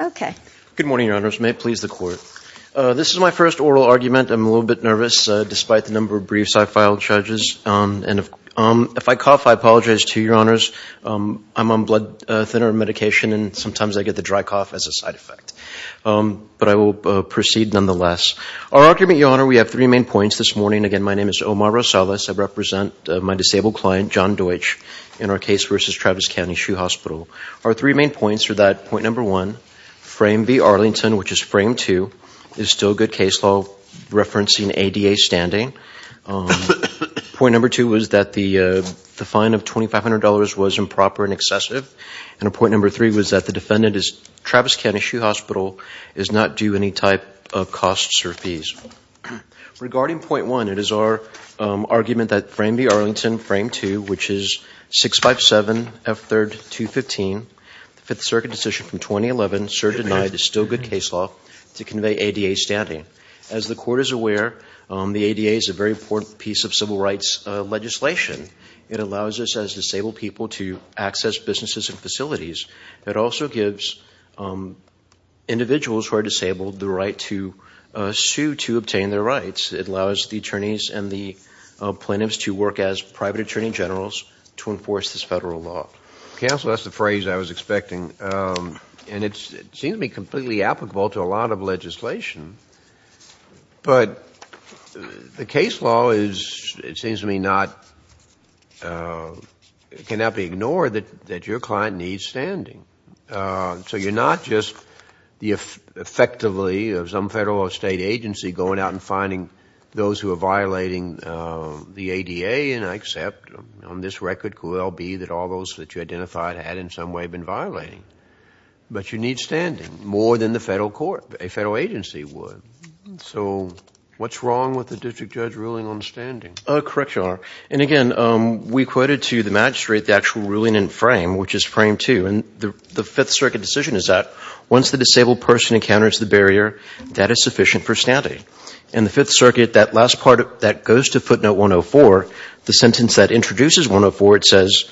Okay. Good morning, Your Honors. May it please the Court. This is my first oral argument. I'm a little bit nervous despite the number of briefs I filed, Judges, and if I cough, I apologize to Your Honors. I'm on blood thinner medication and sometimes I get the dry cough as a side effect, but I will proceed nonetheless. Our argument, Your Honor, we have three main points this morning. Again, my name is Omar Rosales. I represent my disabled client, John Deutsch, in our case versus Travis County Shoe Hospital. Our three main points are that point number one, frame B Arlington, which is frame two, is still good case law referencing ADA standing. Point number two was that the fine of $2,500 was improper and excessive, and point number three was that the defendant is Travis County Shoe Hospital, is not due any type of costs or fees. Regarding point one, it is our argument that frame B Arlington, frame two, which is 657F3215, the Fifth Circuit decision from 2011, served denied, is still good case law to convey ADA standing. As the Court is aware, the ADA is a very important piece of civil rights legislation. It allows us as disabled people to access businesses and facilities. It also gives individuals who are disabled the right to sue to obtain their rights. It allows the attorneys and the plaintiffs to work as private attorney generals to enforce this federal law. Counsel, that's the phrase I was expecting, and it seems to be completely applicable to a lot of legislation, but the case law is, it seems to me, cannot be ignored that that your client needs standing. So you're not just, effectively, of some federal or state agency going out and finding those who are violating the ADA, and I accept, on this record, could well be that all those that you identified had in some way been violating. But you need standing, more than the federal court, a federal agency would. So what's wrong with the district judge ruling on standing? Correct, Your Honor. And again, we quoted to the magistrate the actual ruling in frame, which is frame two, and the Fifth Circuit decision is that once the disabled person is standing, it's sufficient for standing. In the Fifth Circuit, that last part, that goes to footnote 104, the sentence that introduces 104, it says,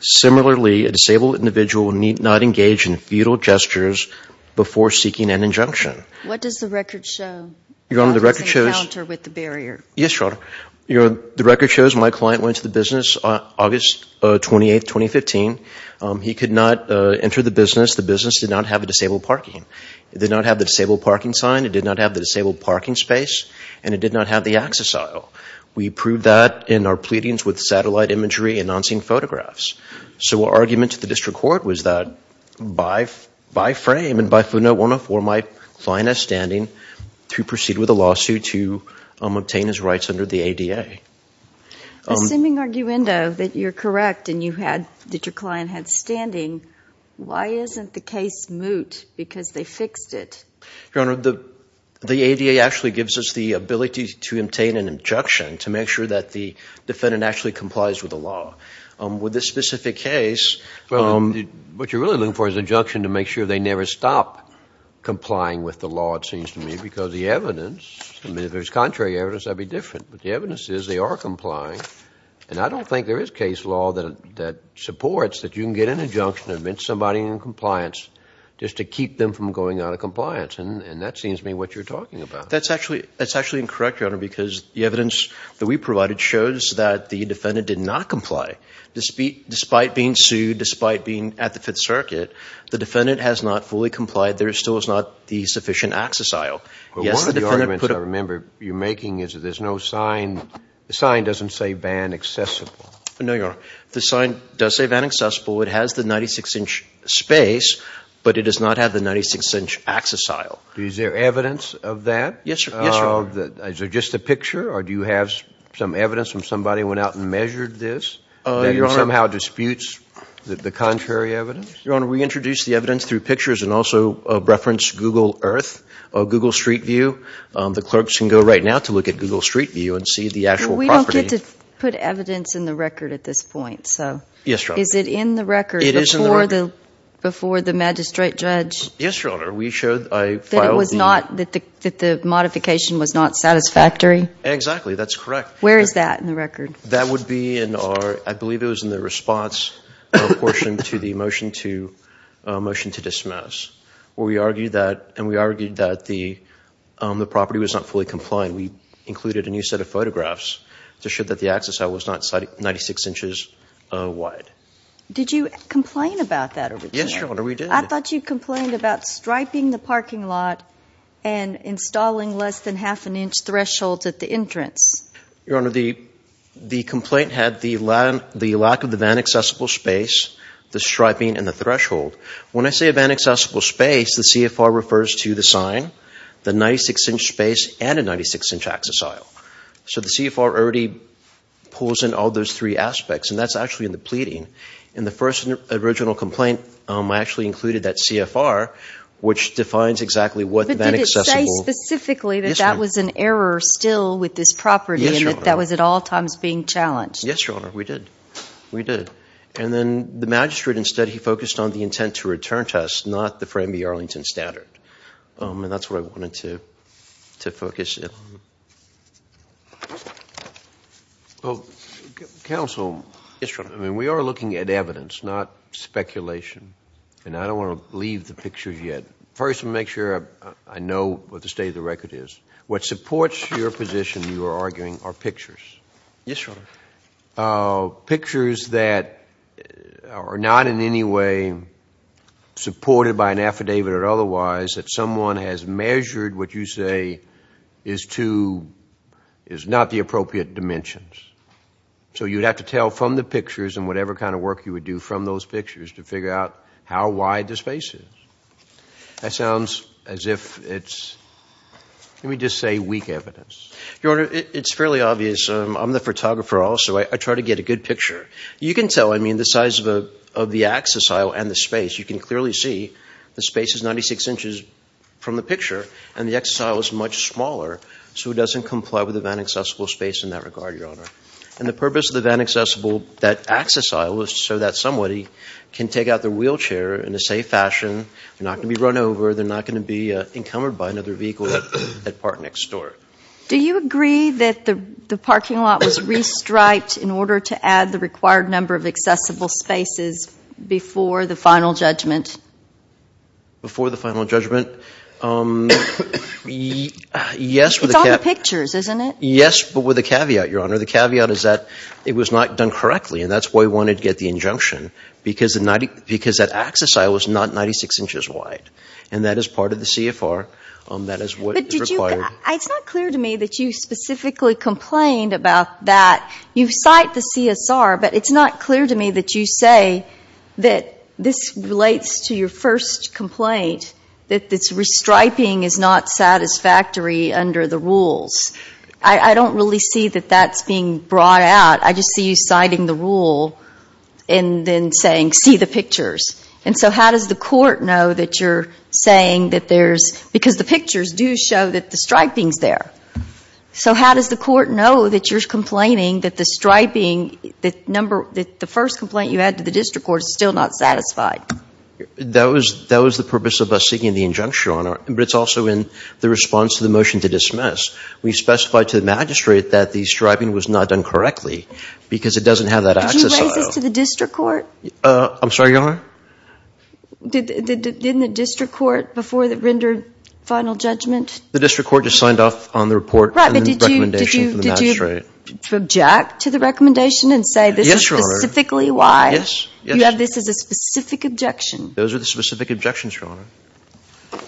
similarly, a disabled individual need not engage in futile gestures before seeking an injunction. What does the record show? Your Honor, the record shows What does it encounter with the barrier? Yes, Your Honor. The record shows my client went to the business on August 28th, 2015. He could not enter the business. The business did not have a disabled parking sign, it did not have the disabled parking space, and it did not have the access aisle. We proved that in our pleadings with satellite imagery and non-scene photographs. So our argument to the district court was that by frame and by footnote 104, my client has standing to proceed with a lawsuit to obtain his rights under the ADA. Assuming, Arguendo, that you're correct and that your client had standing, why isn't the case moot because they fixed it? Your Honor, the ADA actually gives us the ability to obtain an injunction to make sure that the defendant actually complies with the law. With this specific case, what you're really looking for is an injunction to make sure they never stop complying with the law, it seems to me, because the evidence, I mean, if there's contrary evidence, that would be different, but the evidence is they are complying, and I don't think there is case law that supports that you can get an injunction to admit somebody in compliance just to keep them from going out of compliance, and that seems to me what you're talking about. That's actually incorrect, Your Honor, because the evidence that we provided shows that the defendant did not comply. Despite being sued, despite being at the Fifth Circuit, the defendant has not fully complied. There still is not the sufficient access aisle. One of the arguments I remember you making is that there's no sign, the sign doesn't say ban accessible. No, Your Honor. The sign does say ban accessible. It has the 96-inch space, but it does not have the 96-inch access aisle. Is there evidence of that? Yes, Your Honor. Is there just a picture, or do you have some evidence from somebody who went out and measured this that somehow disputes the contrary evidence? Your Honor, we introduced the evidence through pictures and also referenced Google Earth, Google Street View. The clerks can go right now to look at Google Street View and see the actual property. I get to put evidence in the record at this point, so. Yes, Your Honor. Is it in the record before the magistrate judge? Yes, Your Honor. We showed, I filed the... That it was not, that the modification was not satisfactory? Exactly, that's correct. Where is that in the record? That would be in our, I believe it was in the response portion to the motion to, motion to dismiss, where we argued that, and we argued that the property was not fully compliant. We included a new set of photographs to show that the access aisle was not 96 inches wide. Did you complain about that over here? Yes, Your Honor, we did. I thought you complained about striping the parking lot and installing less than half an inch thresholds at the entrance. Your Honor, the complaint had the lack of the van accessible space, the striping and the threshold. When I say a van accessible space, the CFR refers to the design, the 96-inch space, and a 96-inch access aisle. So the CFR already pulls in all those three aspects, and that's actually in the pleading. In the first original complaint, I actually included that CFR, which defines exactly what the van accessible... But did it say specifically that that was an error still with this property? Yes, Your Honor. And that that was at all times being challenged? Yes, Your Honor, we did. We did. And then the magistrate instead, he focused on the intent to return to us, not the Framby-Arlington standard. And that's what I wanted to focus in. Counsel, we are looking at evidence, not speculation, and I don't want to leave the pictures yet. First, I want to make sure I know what the state of the record is. What supports your position, you are arguing, are pictures. Yes, Your Honor. Pictures that are not in any way supported by an affidavit or otherwise, that someone has measured what you say is not the appropriate dimensions. So you'd have to tell from the pictures and whatever kind of work you would do from those pictures to figure out how wide the space is. That sounds as if it's, let me just say, weak evidence. Your Honor, it's fairly obvious. I'm the photographer also. I try to get a good picture. You can tell, I mean, the size of the access aisle and the space. You can clearly see the space is 96 inches from the picture, and the access aisle is much smaller, so it doesn't comply with the van accessible space in that regard, Your Honor. And the purpose of the van accessible, that access aisle, is so that somebody can take out their wheelchair in a safe fashion. They're not going to be run over. They're not going to be encumbered by another vehicle at park next door. Do you agree that the parking lot was re-striped in order to add the required number of accessible spaces before the final judgment? Before the final judgment? Yes, but with a caveat, Your Honor. The caveat is that it was not done correctly, and that's why we wanted to get the injunction, because that access aisle was not 96 inches wide. And that is part of the CFR. That is what is required. It's not clear to me that you specifically complained about that. You cite the CSR, but it's not clear to me that you say that this relates to your first complaint, that this re-striping is not satisfactory under the rules. I don't really see that that's being brought out. I just see you citing the rule and then saying, see the pictures. And so how does the court know that you're saying that because the pictures do show that the striping is there. So how does the court know that you're complaining that the first complaint you had to the district court is still not satisfied? That was the purpose of us seeking the injunction, Your Honor. But it's also in the response to the motion to dismiss. We specified to the magistrate that the striping was not done correctly because it doesn't have that access aisle. Did you raise this to the district court? I'm sorry, Your Honor? Didn't the district court, before it rendered final judgment? The district court just signed off on the report and the recommendation from the magistrate. Did you object to the recommendation and say this is specifically why you have this as a specific objection? Those are the specific objections, Your Honor.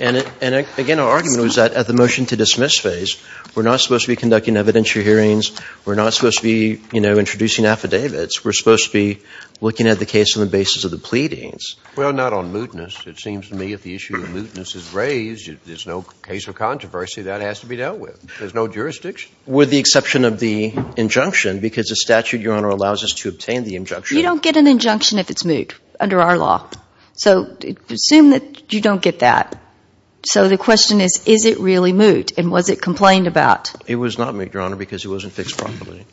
And again, our argument was that at the motion to dismiss phase, we're not supposed to be conducting evidentiary hearings. We're not supposed to be introducing affidavits. We're supposed to be looking at the case on the basis of the pleadings. Well, not on mootness. It seems to me if the issue of mootness is raised, there's no case of controversy. That has to be dealt with. There's no jurisdiction. With the exception of the injunction, because the statute, Your Honor, allows us to obtain the injunction. You don't get an injunction if it's moot under our law. So assume that you don't get that. So the question is, is it really moot? And was it complained about? It was not moot, Your Honor, because it wasn't fixed properly.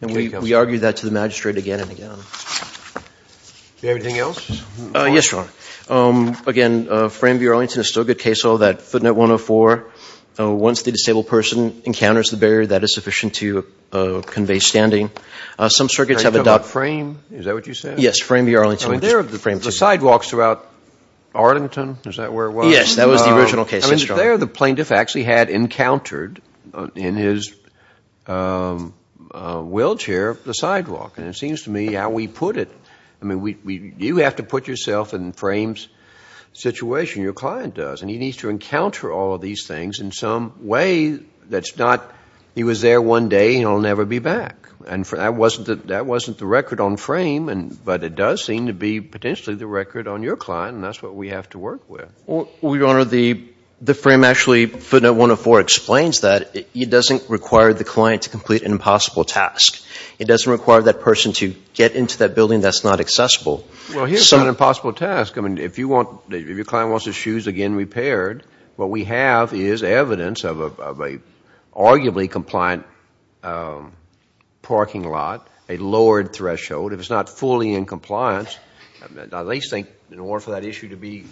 And we argue that to the magistrate again and again. Do you have anything else? Yes, Your Honor. Again, Frame v. Arlington is still a good case. All that footnote 104, once the disabled person encounters the barrier, that is sufficient to convey standing. Some circuits have adopted... Are you talking about Frame? Is that what you said? Yes, Frame v. Arlington. I mean, there are the sidewalks throughout Arlington. Is that where it was? Yes, that was the original case. Yes, Your Honor. I mean, there the plaintiff actually had encountered the sidewalks. In his wheelchair, the sidewalk. And it seems to me how we put it... I mean, you have to put yourself in Frame's situation. Your client does. And he needs to encounter all of these things in some way that's not... He was there one day and he'll never be back. And that wasn't the record on Frame. But it does seem to be potentially the record on your client. And that's what we have to work with. Well, Your Honor, the frame actually, footnote 104, explains that. It doesn't require the client to complete an impossible task. It doesn't require that person to get into that building that's not accessible. Well, here's an impossible task. I mean, if your client wants his shoes again repaired, what we have is evidence of an arguably compliant parking lot, a lowered threshold. If it's not fully in compliance, they think in order for that issue to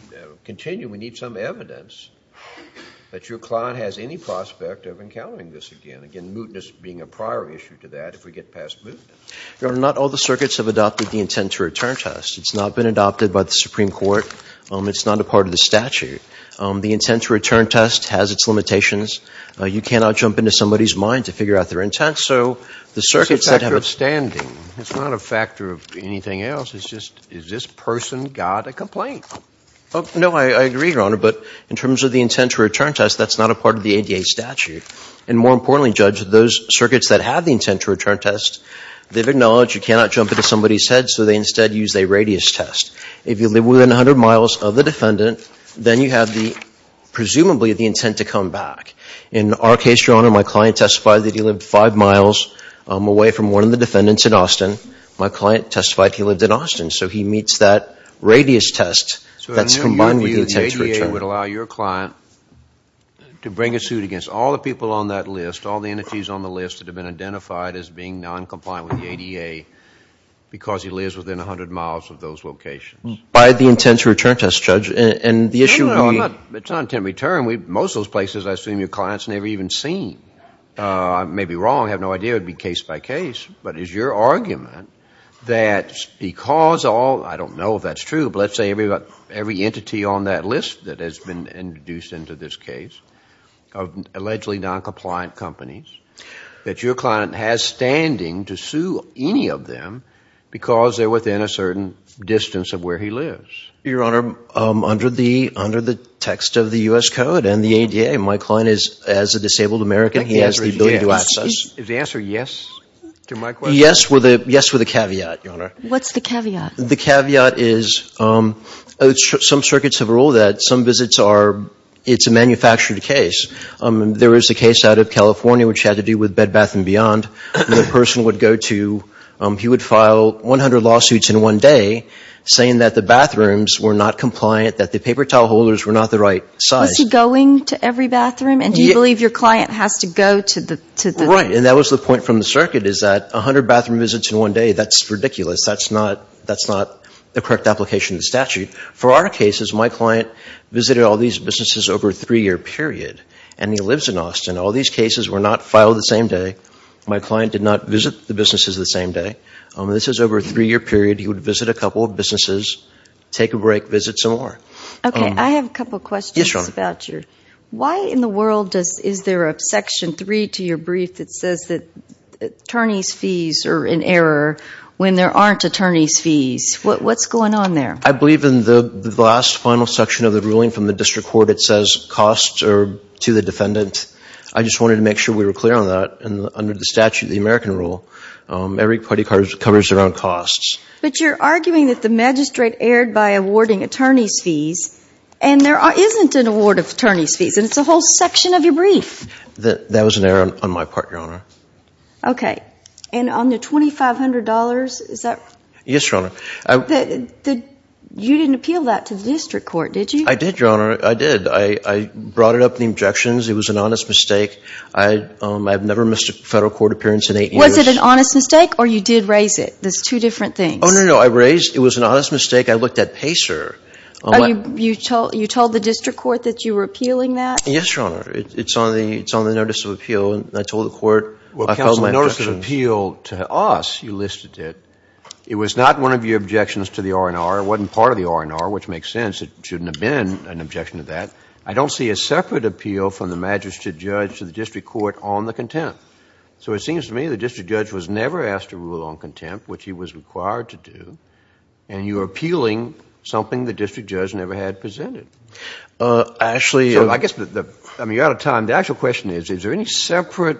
continue, we need some evidence that your client has any prospect of encountering this again. Again, mootness being a prior issue to that if we get past mootness. Your Honor, not all the circuits have adopted the intent-to-return test. It's not been adopted by the Supreme Court. It's not a part of the statute. The intent-to-return test has its limitations. You cannot jump into somebody's mind to figure out their intent. It's a factor of standing. It's not a factor of anything else. Is this person got a complaint? No, I agree, Your Honor, but in terms of the intent-to-return test, that's not a part of the ADA statute. And more importantly, Judge, those circuits that have the intent-to-return test, they've acknowledged you cannot jump into somebody's head, so they instead use a radius test. If you live within 100 miles of the defendant, then you have the, presumably, the intent to come back. In our case, Your Honor, my client testified that he lived five miles away from one of the defendants in Austin. My client testified he lived in Austin, so he meets that radius test that's combined with the intent-to-return. So in your view, the ADA would allow your client to bring a suit against all the people on that list, all the entities on the list that have been identified as being noncompliant with the ADA because he lives within 100 miles of those locations. By the intent-to-return test, Judge, and the issue... No, no, no, it's not intent-to-return. Most of those places, I assume, your client's never even seen. I may be wrong. I have no idea. It would be case by case. But is your argument that because all... I don't know if that's true, but let's say every entity on that list that has been introduced into this case of allegedly noncompliant companies, that your client has standing to sue any of them because they're within a certain distance of where he lives? Your Honor, under the text of the U.S. Code and the ADA, my client is a disabled American. He has the ability to access... Is the answer yes to my question? Yes with a caveat, Your Honor. What's the caveat? The caveat is some circuits have ruled that some visits are, it's a manufactured case. There is a case out of California which had to do with Bed Bath & Beyond where the person would go to, he would file 100 lawsuits in one day saying that the bathrooms were not compliant, that the paper towel holders were not the right size. Was he going to every bathroom? And do you believe your client has to go to the... Right. And that was the point from the circuit is that 100 bathroom visits in one day, that's ridiculous. That's not the correct application of the statute. For our cases, my client visited all these businesses over a three-year period, and he lives in Austin. All these cases were not filed the same day. My client did not visit the businesses the same day. This is over a three-year period. He would visit a couple of businesses, take a break, visit some more. Okay. I have a couple questions about your... Yes, Your Honor. Why in the world is there a Section 3 to your brief that says that attorney's fees are in error when there aren't attorney's fees? What's going on there? I believe in the last final section of the ruling from the district court, it says costs are to the defendant. I just wanted to make sure we were clear on that. Under the statute, the American rule, every party covers their own costs. But you're arguing that the magistrate erred by awarding attorney's fees and there isn't an award of attorney's fees, and it's a whole section of your brief. That was an error on my part, Your Honor. Okay. And on the $2,500, is that... Yes, Your Honor. You didn't appeal that to the district court, did you? I did, Your Honor. I did. I brought it up in the objections. It was an honest mistake. I have never missed a federal court appearance in eight years. Was it an honest mistake or you did raise it? There's two different things. Oh, no, no. I raised it. It was an honest mistake. I looked at PACER. Oh, you told the district court that you were appealing that? Yes, Your Honor. It's on the notice of appeal, and I told the court. Well, counsel, notice of appeal to us, you listed it. It was not one of your objections to the R&R. It wasn't part of the R&R, which makes sense. It shouldn't have been an objection to that. I don't see a separate appeal from the magistrate judge to the district court on the contempt. So it seems to me the district judge was never asked to rule on contempt, which he was required to do. And you were appealing something the district judge never had presented. Actually, I guess the – I mean, you're out of time. The actual question is, is there any separate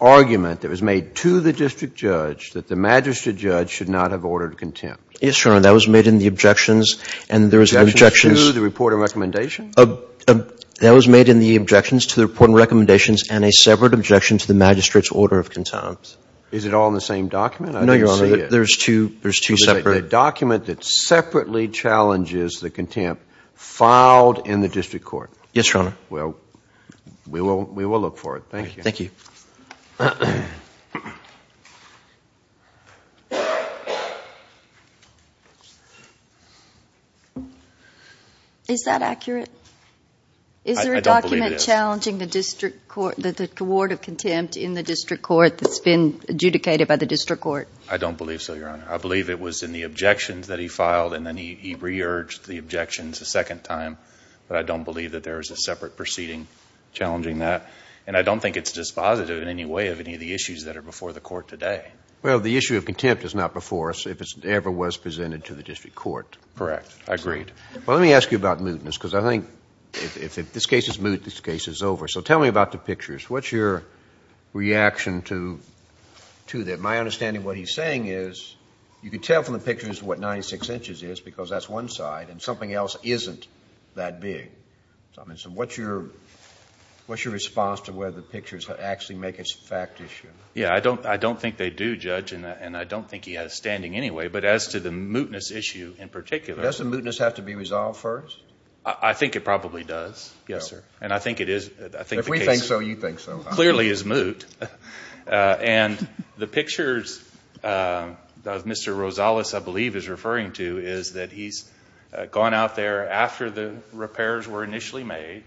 argument that was made to the district judge that the magistrate judge should not have ordered contempt? Yes, Your Honor. That was made in the objections, and there was an objection. Objections to the R&R? That was made in the objections to the R&R and a separate objection to the magistrate's order of contempt. Is it all in the same document? No, Your Honor. I don't see it. There's two separate – It's a document that separately challenges the contempt filed in the district court. Yes, Your Honor. Well, we will look for it. Thank you. Thank you. Is that accurate? I don't believe it is. Is there a document challenging the district court – the award of contempt in the district court that's been adjudicated by the district court? I don't believe so, Your Honor. I believe it was in the objections that he filed, and then he re-urged the objections a second time. But I don't believe that there is a separate proceeding challenging that. And I don't think it's dispositive in any way of any of the issues that are before the court today. Well, the issue of contempt is not before us if it ever was presented to the district court. Correct. I agree. Well, let me ask you about mootness, because I think if this case is moot, this case is over. So tell me about the pictures. What's your reaction to that? My understanding of what he's saying is you can tell from the pictures what 96 inches is, because that's one side, and something else isn't that big. So what's your response to whether the pictures actually make it a fact issue? Yeah, I don't think they do, Judge, and I don't think he has standing anyway. But as to the mootness issue in particular – Does the mootness have to be resolved first? I think it probably does. Yes, sir. And I think it is – If we think so, you think so. Clearly is moot. And the pictures that Mr. Rosales, I believe, is referring to is that he's gone out there after the repairs were initially made,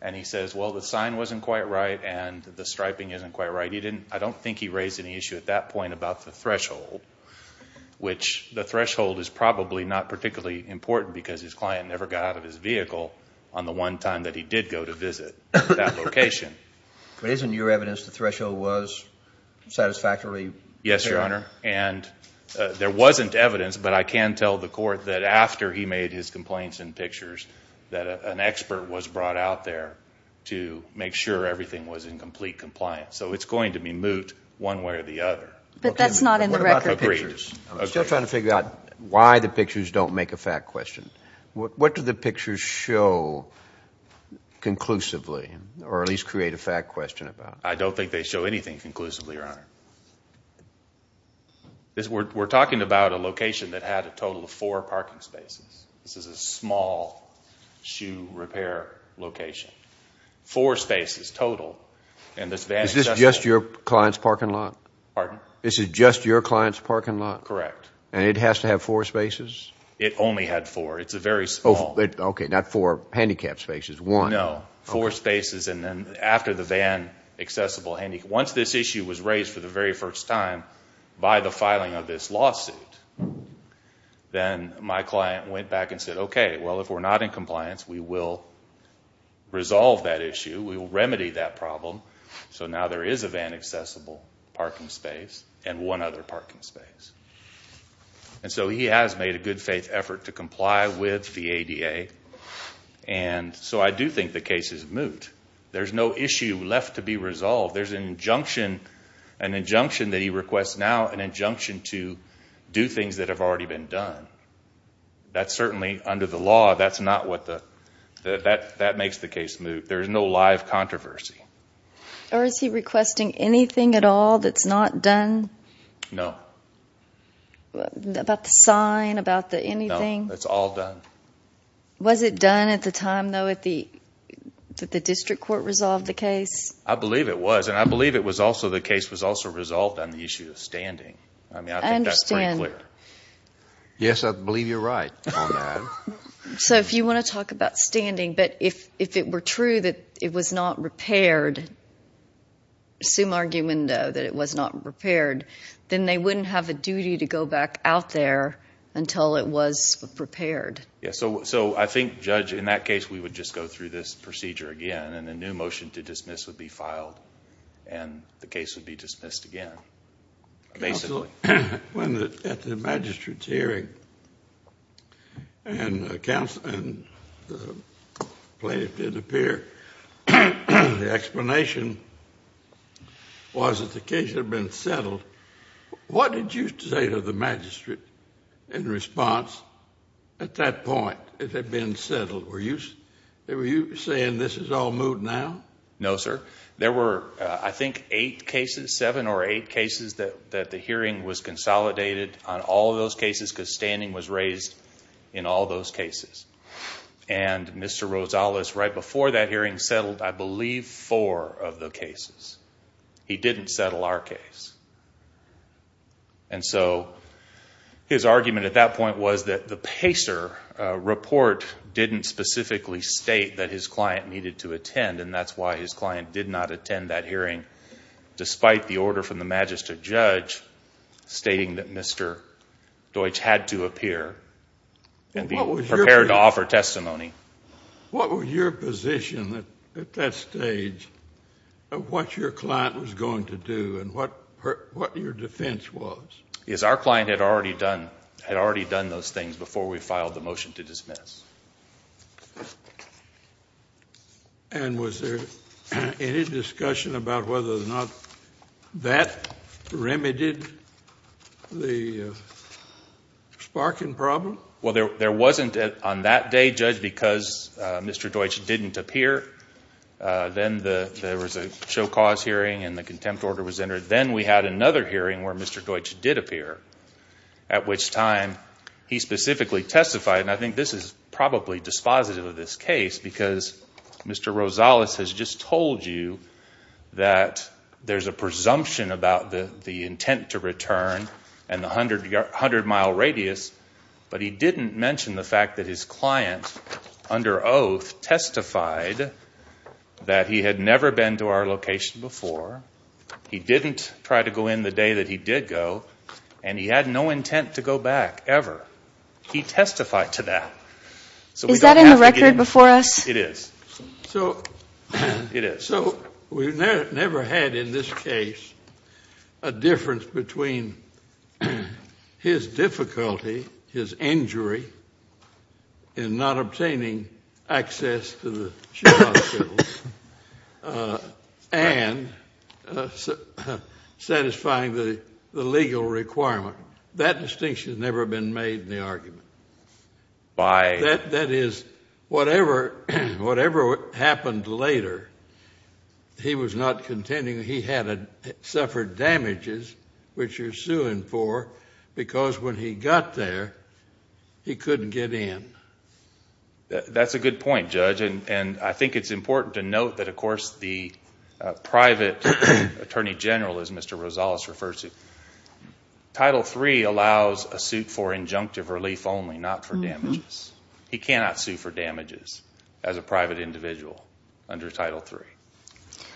and he says, well, the sign wasn't quite right and the striping isn't quite right. I don't think he raised any issue at that point about the threshold, which the threshold is probably not particularly important because his client never got out of his vehicle on the one time that he did go to visit that location. But isn't your evidence the threshold was satisfactorily – Yes, Your Honor. And there wasn't evidence, but I can tell the court that after he made his complaints in pictures that an expert was brought out there to make sure everything was in complete compliance. So it's going to be moot one way or the other. But that's not in the record pictures. I'm still trying to figure out why the pictures don't make a fact question. What do the pictures show conclusively or at least create a fact question about? I don't think they show anything conclusively, Your Honor. We're talking about a location that had a total of four parking spaces. This is a small shoe repair location. Four spaces total. Is this just your client's parking lot? Pardon? This is just your client's parking lot? Correct. And it has to have four spaces? It only had four. It's a very small – Okay, not four. Handicap spaces, one. No. Four spaces and then after the van accessible – Once this issue was raised for the very first time by the filing of this lawsuit, then my client went back and said, okay, well, if we're not in compliance, we will resolve that issue. We will remedy that problem. So now there is a van accessible parking space and one other parking space. And so he has made a good faith effort to comply with the ADA, and so I do think the case is moot. There's no issue left to be resolved. There's an injunction that he requests now, an injunction to do things that have already been done. That's certainly under the law. That's not what the – that makes the case moot. There is no live controversy. Or is he requesting anything at all that's not done? No. About the sign, about the anything? No, it's all done. Was it done at the time, though, that the district court resolved the case? I believe it was, and I believe it was also – the case was also resolved on the issue of standing. I mean, I think that's pretty clear. I understand. Yes, I believe you're right on that. So if you want to talk about standing, but if it were true that it was not repaired, assume argument, though, that it was not repaired, then they wouldn't have a duty to go back out there until it was prepared. Yes, so I think, Judge, in that case we would just go through this procedure again, and a new motion to dismiss would be filed, and the case would be dismissed again, basically. At the magistrate's hearing, and the plaintiff did appear, the explanation was that the case had been settled. What did you say to the magistrate in response? At that point, it had been settled. Were you saying this is all moved now? No, sir. There were, I think, eight cases, seven or eight cases, that the hearing was consolidated on all those cases because standing was raised in all those cases. And Mr. Rosales, right before that hearing, settled, I believe, four of the cases. He didn't settle our case. And so his argument at that point was that the PACER report didn't specifically state that his client needed to attend, and that's why his client did not attend that hearing, despite the order from the magistrate judge stating that Mr. Deutsch had to appear and be prepared to offer testimony. What was your position at that stage of what your client was going to do and what your defense was? Yes, our client had already done those things before we filed the motion to dismiss. And was there any discussion about whether or not that remedied the Sparkin problem? Well, there wasn't on that day, Judge, because Mr. Deutsch didn't appear. Then there was a show-cause hearing and the contempt order was entered. Then we had another hearing where Mr. Deutsch did appear, at which time he specifically testified, and I think this is probably dispositive of this case because Mr. Rosales has just told you that there's a presumption about the intent to return and the 100-mile radius, but he didn't mention the fact that his client, under oath, testified that he had never been to our location before, he didn't try to go in the day that he did go, and he had no intent to go back ever. He testified to that. Is that in the record before us? It is. It is. So we never had in this case a difference between his difficulty, his injury, in not obtaining access to the show hospitals and satisfying the legal requirement. That distinction has never been made in the argument. Why? That is, whatever happened later, he was not contending he had suffered damages, which you're suing for, because when he got there, he couldn't get in. That's a good point, Judge, and I think it's important to note that, of course, the private attorney general, as Mr. Rosales refers to, Title III allows a suit for injunctive relief only, not for damages. He cannot sue for damages as a private individual under Title III.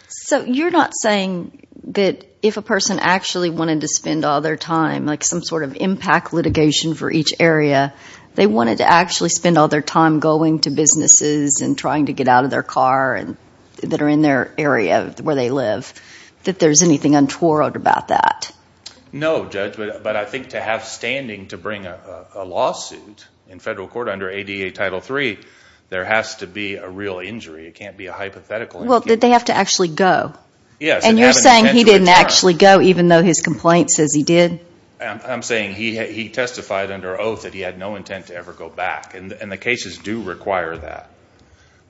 So you're not saying that if a person actually wanted to spend all their time, like some sort of impact litigation for each area, they wanted to actually spend all their time going to businesses and trying to get out of their car that are in their area where they live, that there's anything untoward about that? No, Judge, but I think to have standing to bring a lawsuit in federal court under ADA Title III, there has to be a real injury. It can't be a hypothetical injury. Well, did they have to actually go? Yes. And you're saying he didn't actually go, even though his complaint says he did? I'm saying he testified under oath that he had no intent to ever go back, and the cases do require that.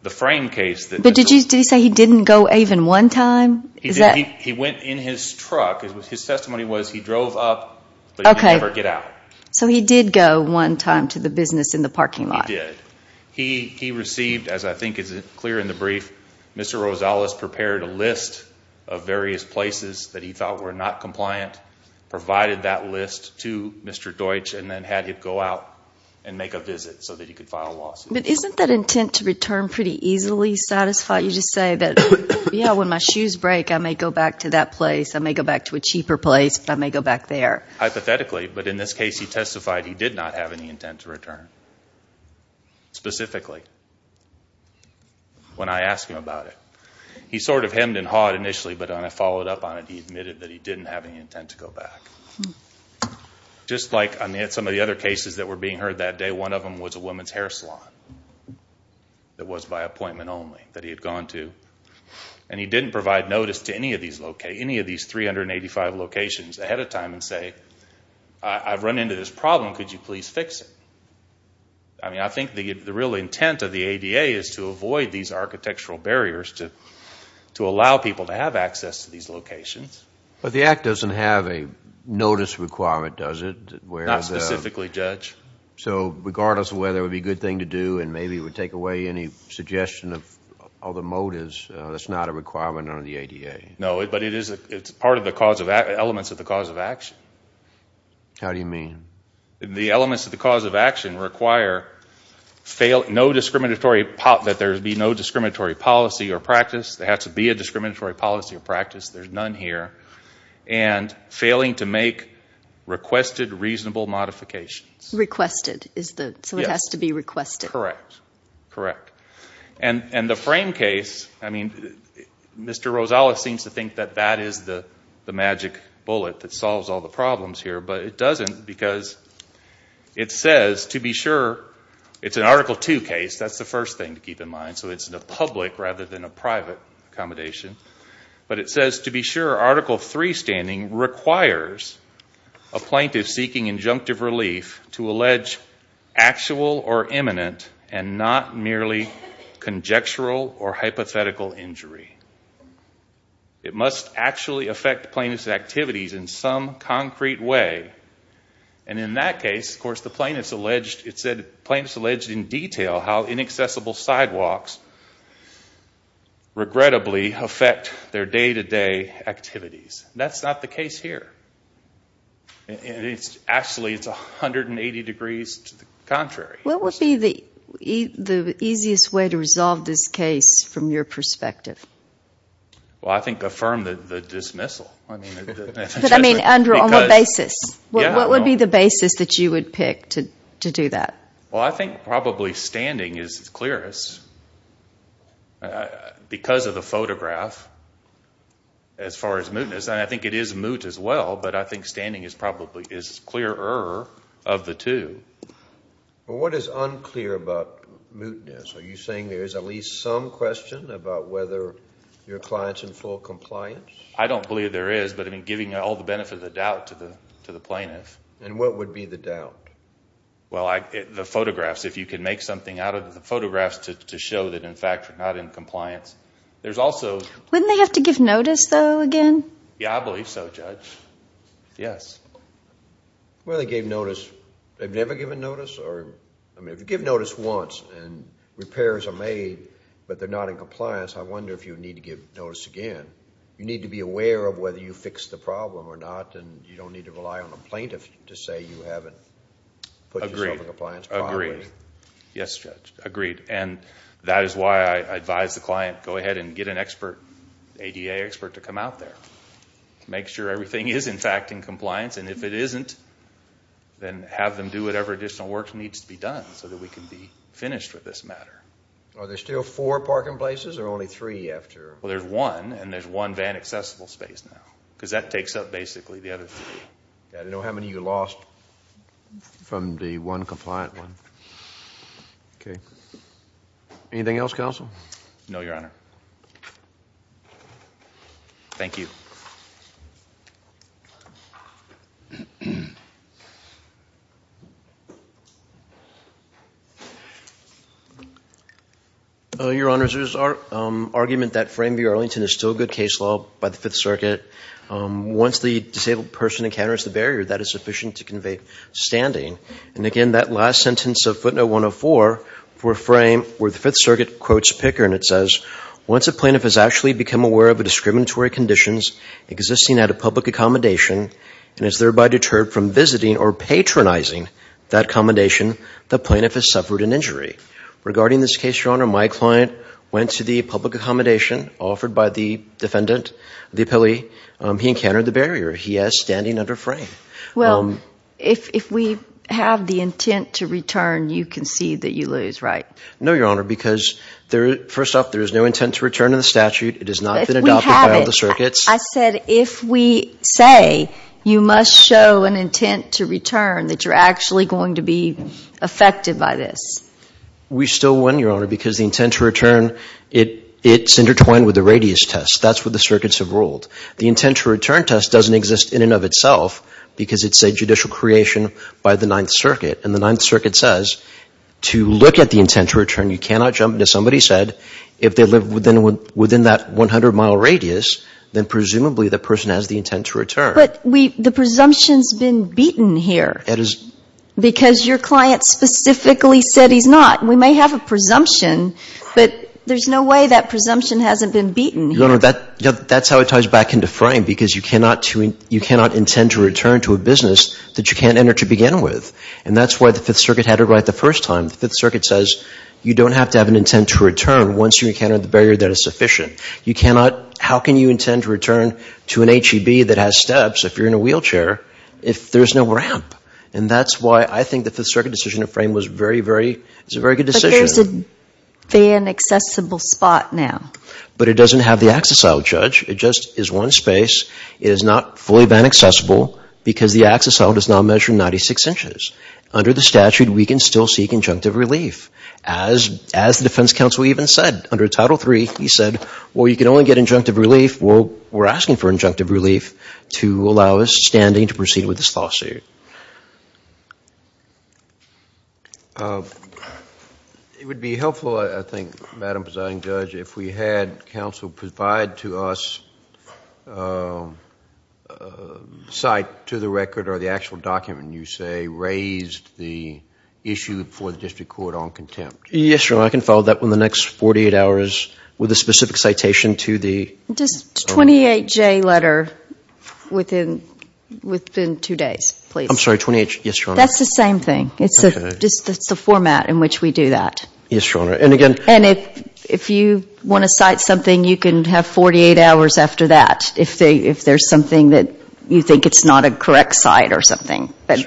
But did he say he didn't go even one time? He went in his truck. His testimony was he drove up, but he could never get out. So he did go one time to the business in the parking lot. He did. He received, as I think is clear in the brief, Mr. Rosales prepared a list of various places that he thought were not compliant, provided that list to Mr. Deutsch, and then had him go out and make a visit so that he could file a lawsuit. But isn't that intent to return pretty easily satisfied? You just say that, yeah, when my shoes break, I may go back to that place. I may go back to a cheaper place, but I may go back there. Hypothetically, but in this case, he testified he did not have any intent to return, specifically, when I asked him about it. He sort of hemmed and hawed initially, but when I followed up on it, he admitted that he didn't have any intent to go back. Just like some of the other cases that were being heard that day, one of them was a women's hair salon that was by appointment only that he had gone to, and he didn't provide notice to any of these 385 locations ahead of time and say, I've run into this problem, could you please fix it? I mean, I think the real intent of the ADA is to avoid these architectural barriers to allow people to have access to these locations. But the Act doesn't have a notice requirement, does it? Not specifically, Judge. So regardless of whether it would be a good thing to do and maybe it would take away any suggestion of other motives, that's not a requirement under the ADA? No, but it's part of the elements of the cause of action. How do you mean? The elements of the cause of action require that there be no discriminatory policy or practice. There has to be a discriminatory policy or practice. There's none here. And failing to make requested reasonable modifications. Requested, so it has to be requested. Correct, correct. And the frame case, I mean, Mr. Rosales seems to think that that is the magic bullet that solves all the problems here, but it doesn't because it says, to be sure, it's an Article II case, that's the first thing to keep in mind, so it's a public rather than a private accommodation, but it says, to be sure, Article III standing requires a plaintiff seeking injunctive relief to allege actual or imminent and not merely conjectural or hypothetical injury. It must actually affect plaintiff's activities in some concrete way. And in that case, of course, the plaintiff's alleged in detail how inaccessible sidewalks regrettably affect their day-to-day activities. That's not the case here. Actually, it's 180 degrees to the contrary. What would be the easiest way to resolve this case from your perspective? Well, I think affirm the dismissal. But I mean, on what basis? What would be the basis that you would pick to do that? Well, I think probably standing is clearest because of the photograph as far as mootness, and I think it is moot as well, but I think standing is probably clearer of the two. Well, what is unclear about mootness? Are you saying there is at least some question about whether your client's in full compliance? I don't believe there is, but I mean, giving all the benefit of the doubt to the plaintiff. And what would be the doubt? Well, the photographs. If you can make something out of the photographs to show that, in fact, you're not in compliance. Wouldn't they have to give notice, though, again? Yeah, I believe so, Judge. Yes. Well, they gave notice. They've never given notice? I mean, if you give notice once and repairs are made but they're not in compliance, I wonder if you would need to give notice again. You need to be aware of whether you fixed the problem or not, and you don't need to rely on a plaintiff to say you haven't put yourself in compliance properly. Agreed. Agreed. Yes, Judge. Agreed. And that is why I advise the client, go ahead and get an expert, ADA expert, to come out there. Make sure everything is, in fact, in compliance, and if it isn't, then have them do whatever additional work needs to be done so that we can be finished with this matter. Are there still four parking places or only three after? Well, there's one, and there's one van accessible space now because that takes up basically the other three. I don't know how many you lost from the one compliant one. Okay. Anything else, counsel? No, Your Honor. Thank you. Your Honors, there's argument that Frame v. Arlington is still good case law by the Fifth Circuit. Once the disabled person encounters the barrier, that is sufficient to convey standing. And again, that last sentence of footnote 104 for Frame, where the Fifth Circuit quotes Picker, and it says, Regarding this case, Your Honor, my client went to the public accommodation offered by the defendant, the appellee. He encountered the barrier. He has standing under Frame. Well, if we have the intent to return, you concede that you lose, right? No, Your Honor, because first off, there is no intent to return in the statute. It has not been adopted by all the circuits. I said if we say you must show an intent to return, that you're actually going to be affected by this. We still win, Your Honor, because the intent to return, it's intertwined with the radius test. That's what the circuits have ruled. The intent to return test doesn't exist in and of itself because it's a judicial creation by the Ninth Circuit. And the Ninth Circuit says to look at the intent to return, you cannot jump to somebody said, if they live within that 100-mile radius, then presumably the person has the intent to return. But the presumption's been beaten here. It is. Because your client specifically said he's not. We may have a presumption, but there's no way that presumption hasn't been beaten here. Your Honor, that's how it ties back into frame because you cannot intend to return to a business that you can't enter to begin with. And that's why the Fifth Circuit had it right the first time. The Fifth Circuit says you don't have to have an intent to return once you encounter the barrier that is sufficient. You cannot, how can you intend to return to an HEB that has steps if you're in a wheelchair if there's no ramp? And that's why I think the Fifth Circuit decision to frame was a very good decision. But there's a van-accessible spot now. But it doesn't have the access aisle, Judge. It just is one space. It is not fully van-accessible because the access aisle does not measure 96 inches. Under the statute, we can still seek injunctive relief. As the defense counsel even said under Title III, he said, well, you can only get injunctive relief. Well, we're asking for injunctive relief to allow us standing to proceed with this lawsuit. It would be helpful, I think, Madam Presiding Judge, if we had counsel provide to us a cite to the record or the actual document you say raised the issue before the district court on contempt. Yes, Your Honor. I can follow that one the next 48 hours with a specific citation to the... Just 28J letter within two days, please. I'm sorry, 28... Yes, Your Honor. That's the same thing. It's just the format in which we do that. Yes, Your Honor. And if you want to cite something, you can have 48 hours after that if there's something that you think it's not a correct cite or something. But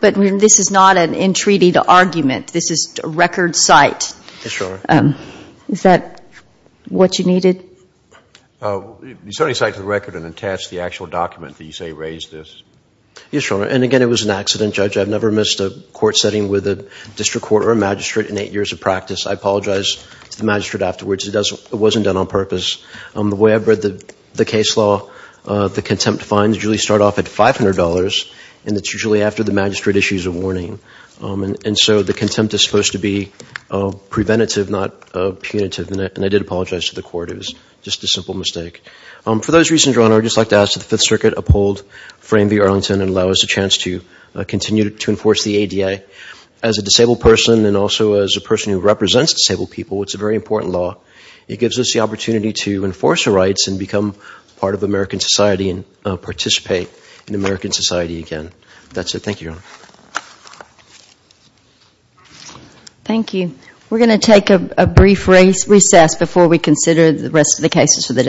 this is not an entreated argument. This is a record cite. Yes, Your Honor. Is that what you needed? You certainly cite to the record and attach the actual document that you say raised this. Yes, Your Honor. And again, it was an accident, Judge. I've never missed a court setting with a district court or a magistrate in eight years of practice. I apologize to the magistrate afterwards. It wasn't done on purpose. The way I've read the case law, the contempt fines usually start off at $500, and it's usually after the magistrate issues a warning. And so the contempt is supposed to be preventative, not punitive, and I did apologize to the court. It was just a simple mistake. For those reasons, Your Honor, I would just like to ask that the Fifth Circuit uphold Frame v. Arlington and allow us a chance to continue to enforce the ADA. As a disabled person and also as a person who represents disabled people, it's a very important law. It gives us the opportunity to enforce our rights and become part of American society and participate in American society again. That's it. Thank you, Your Honor. Thank you. We're going to take a brief recess before we consider the rest of the cases for the day.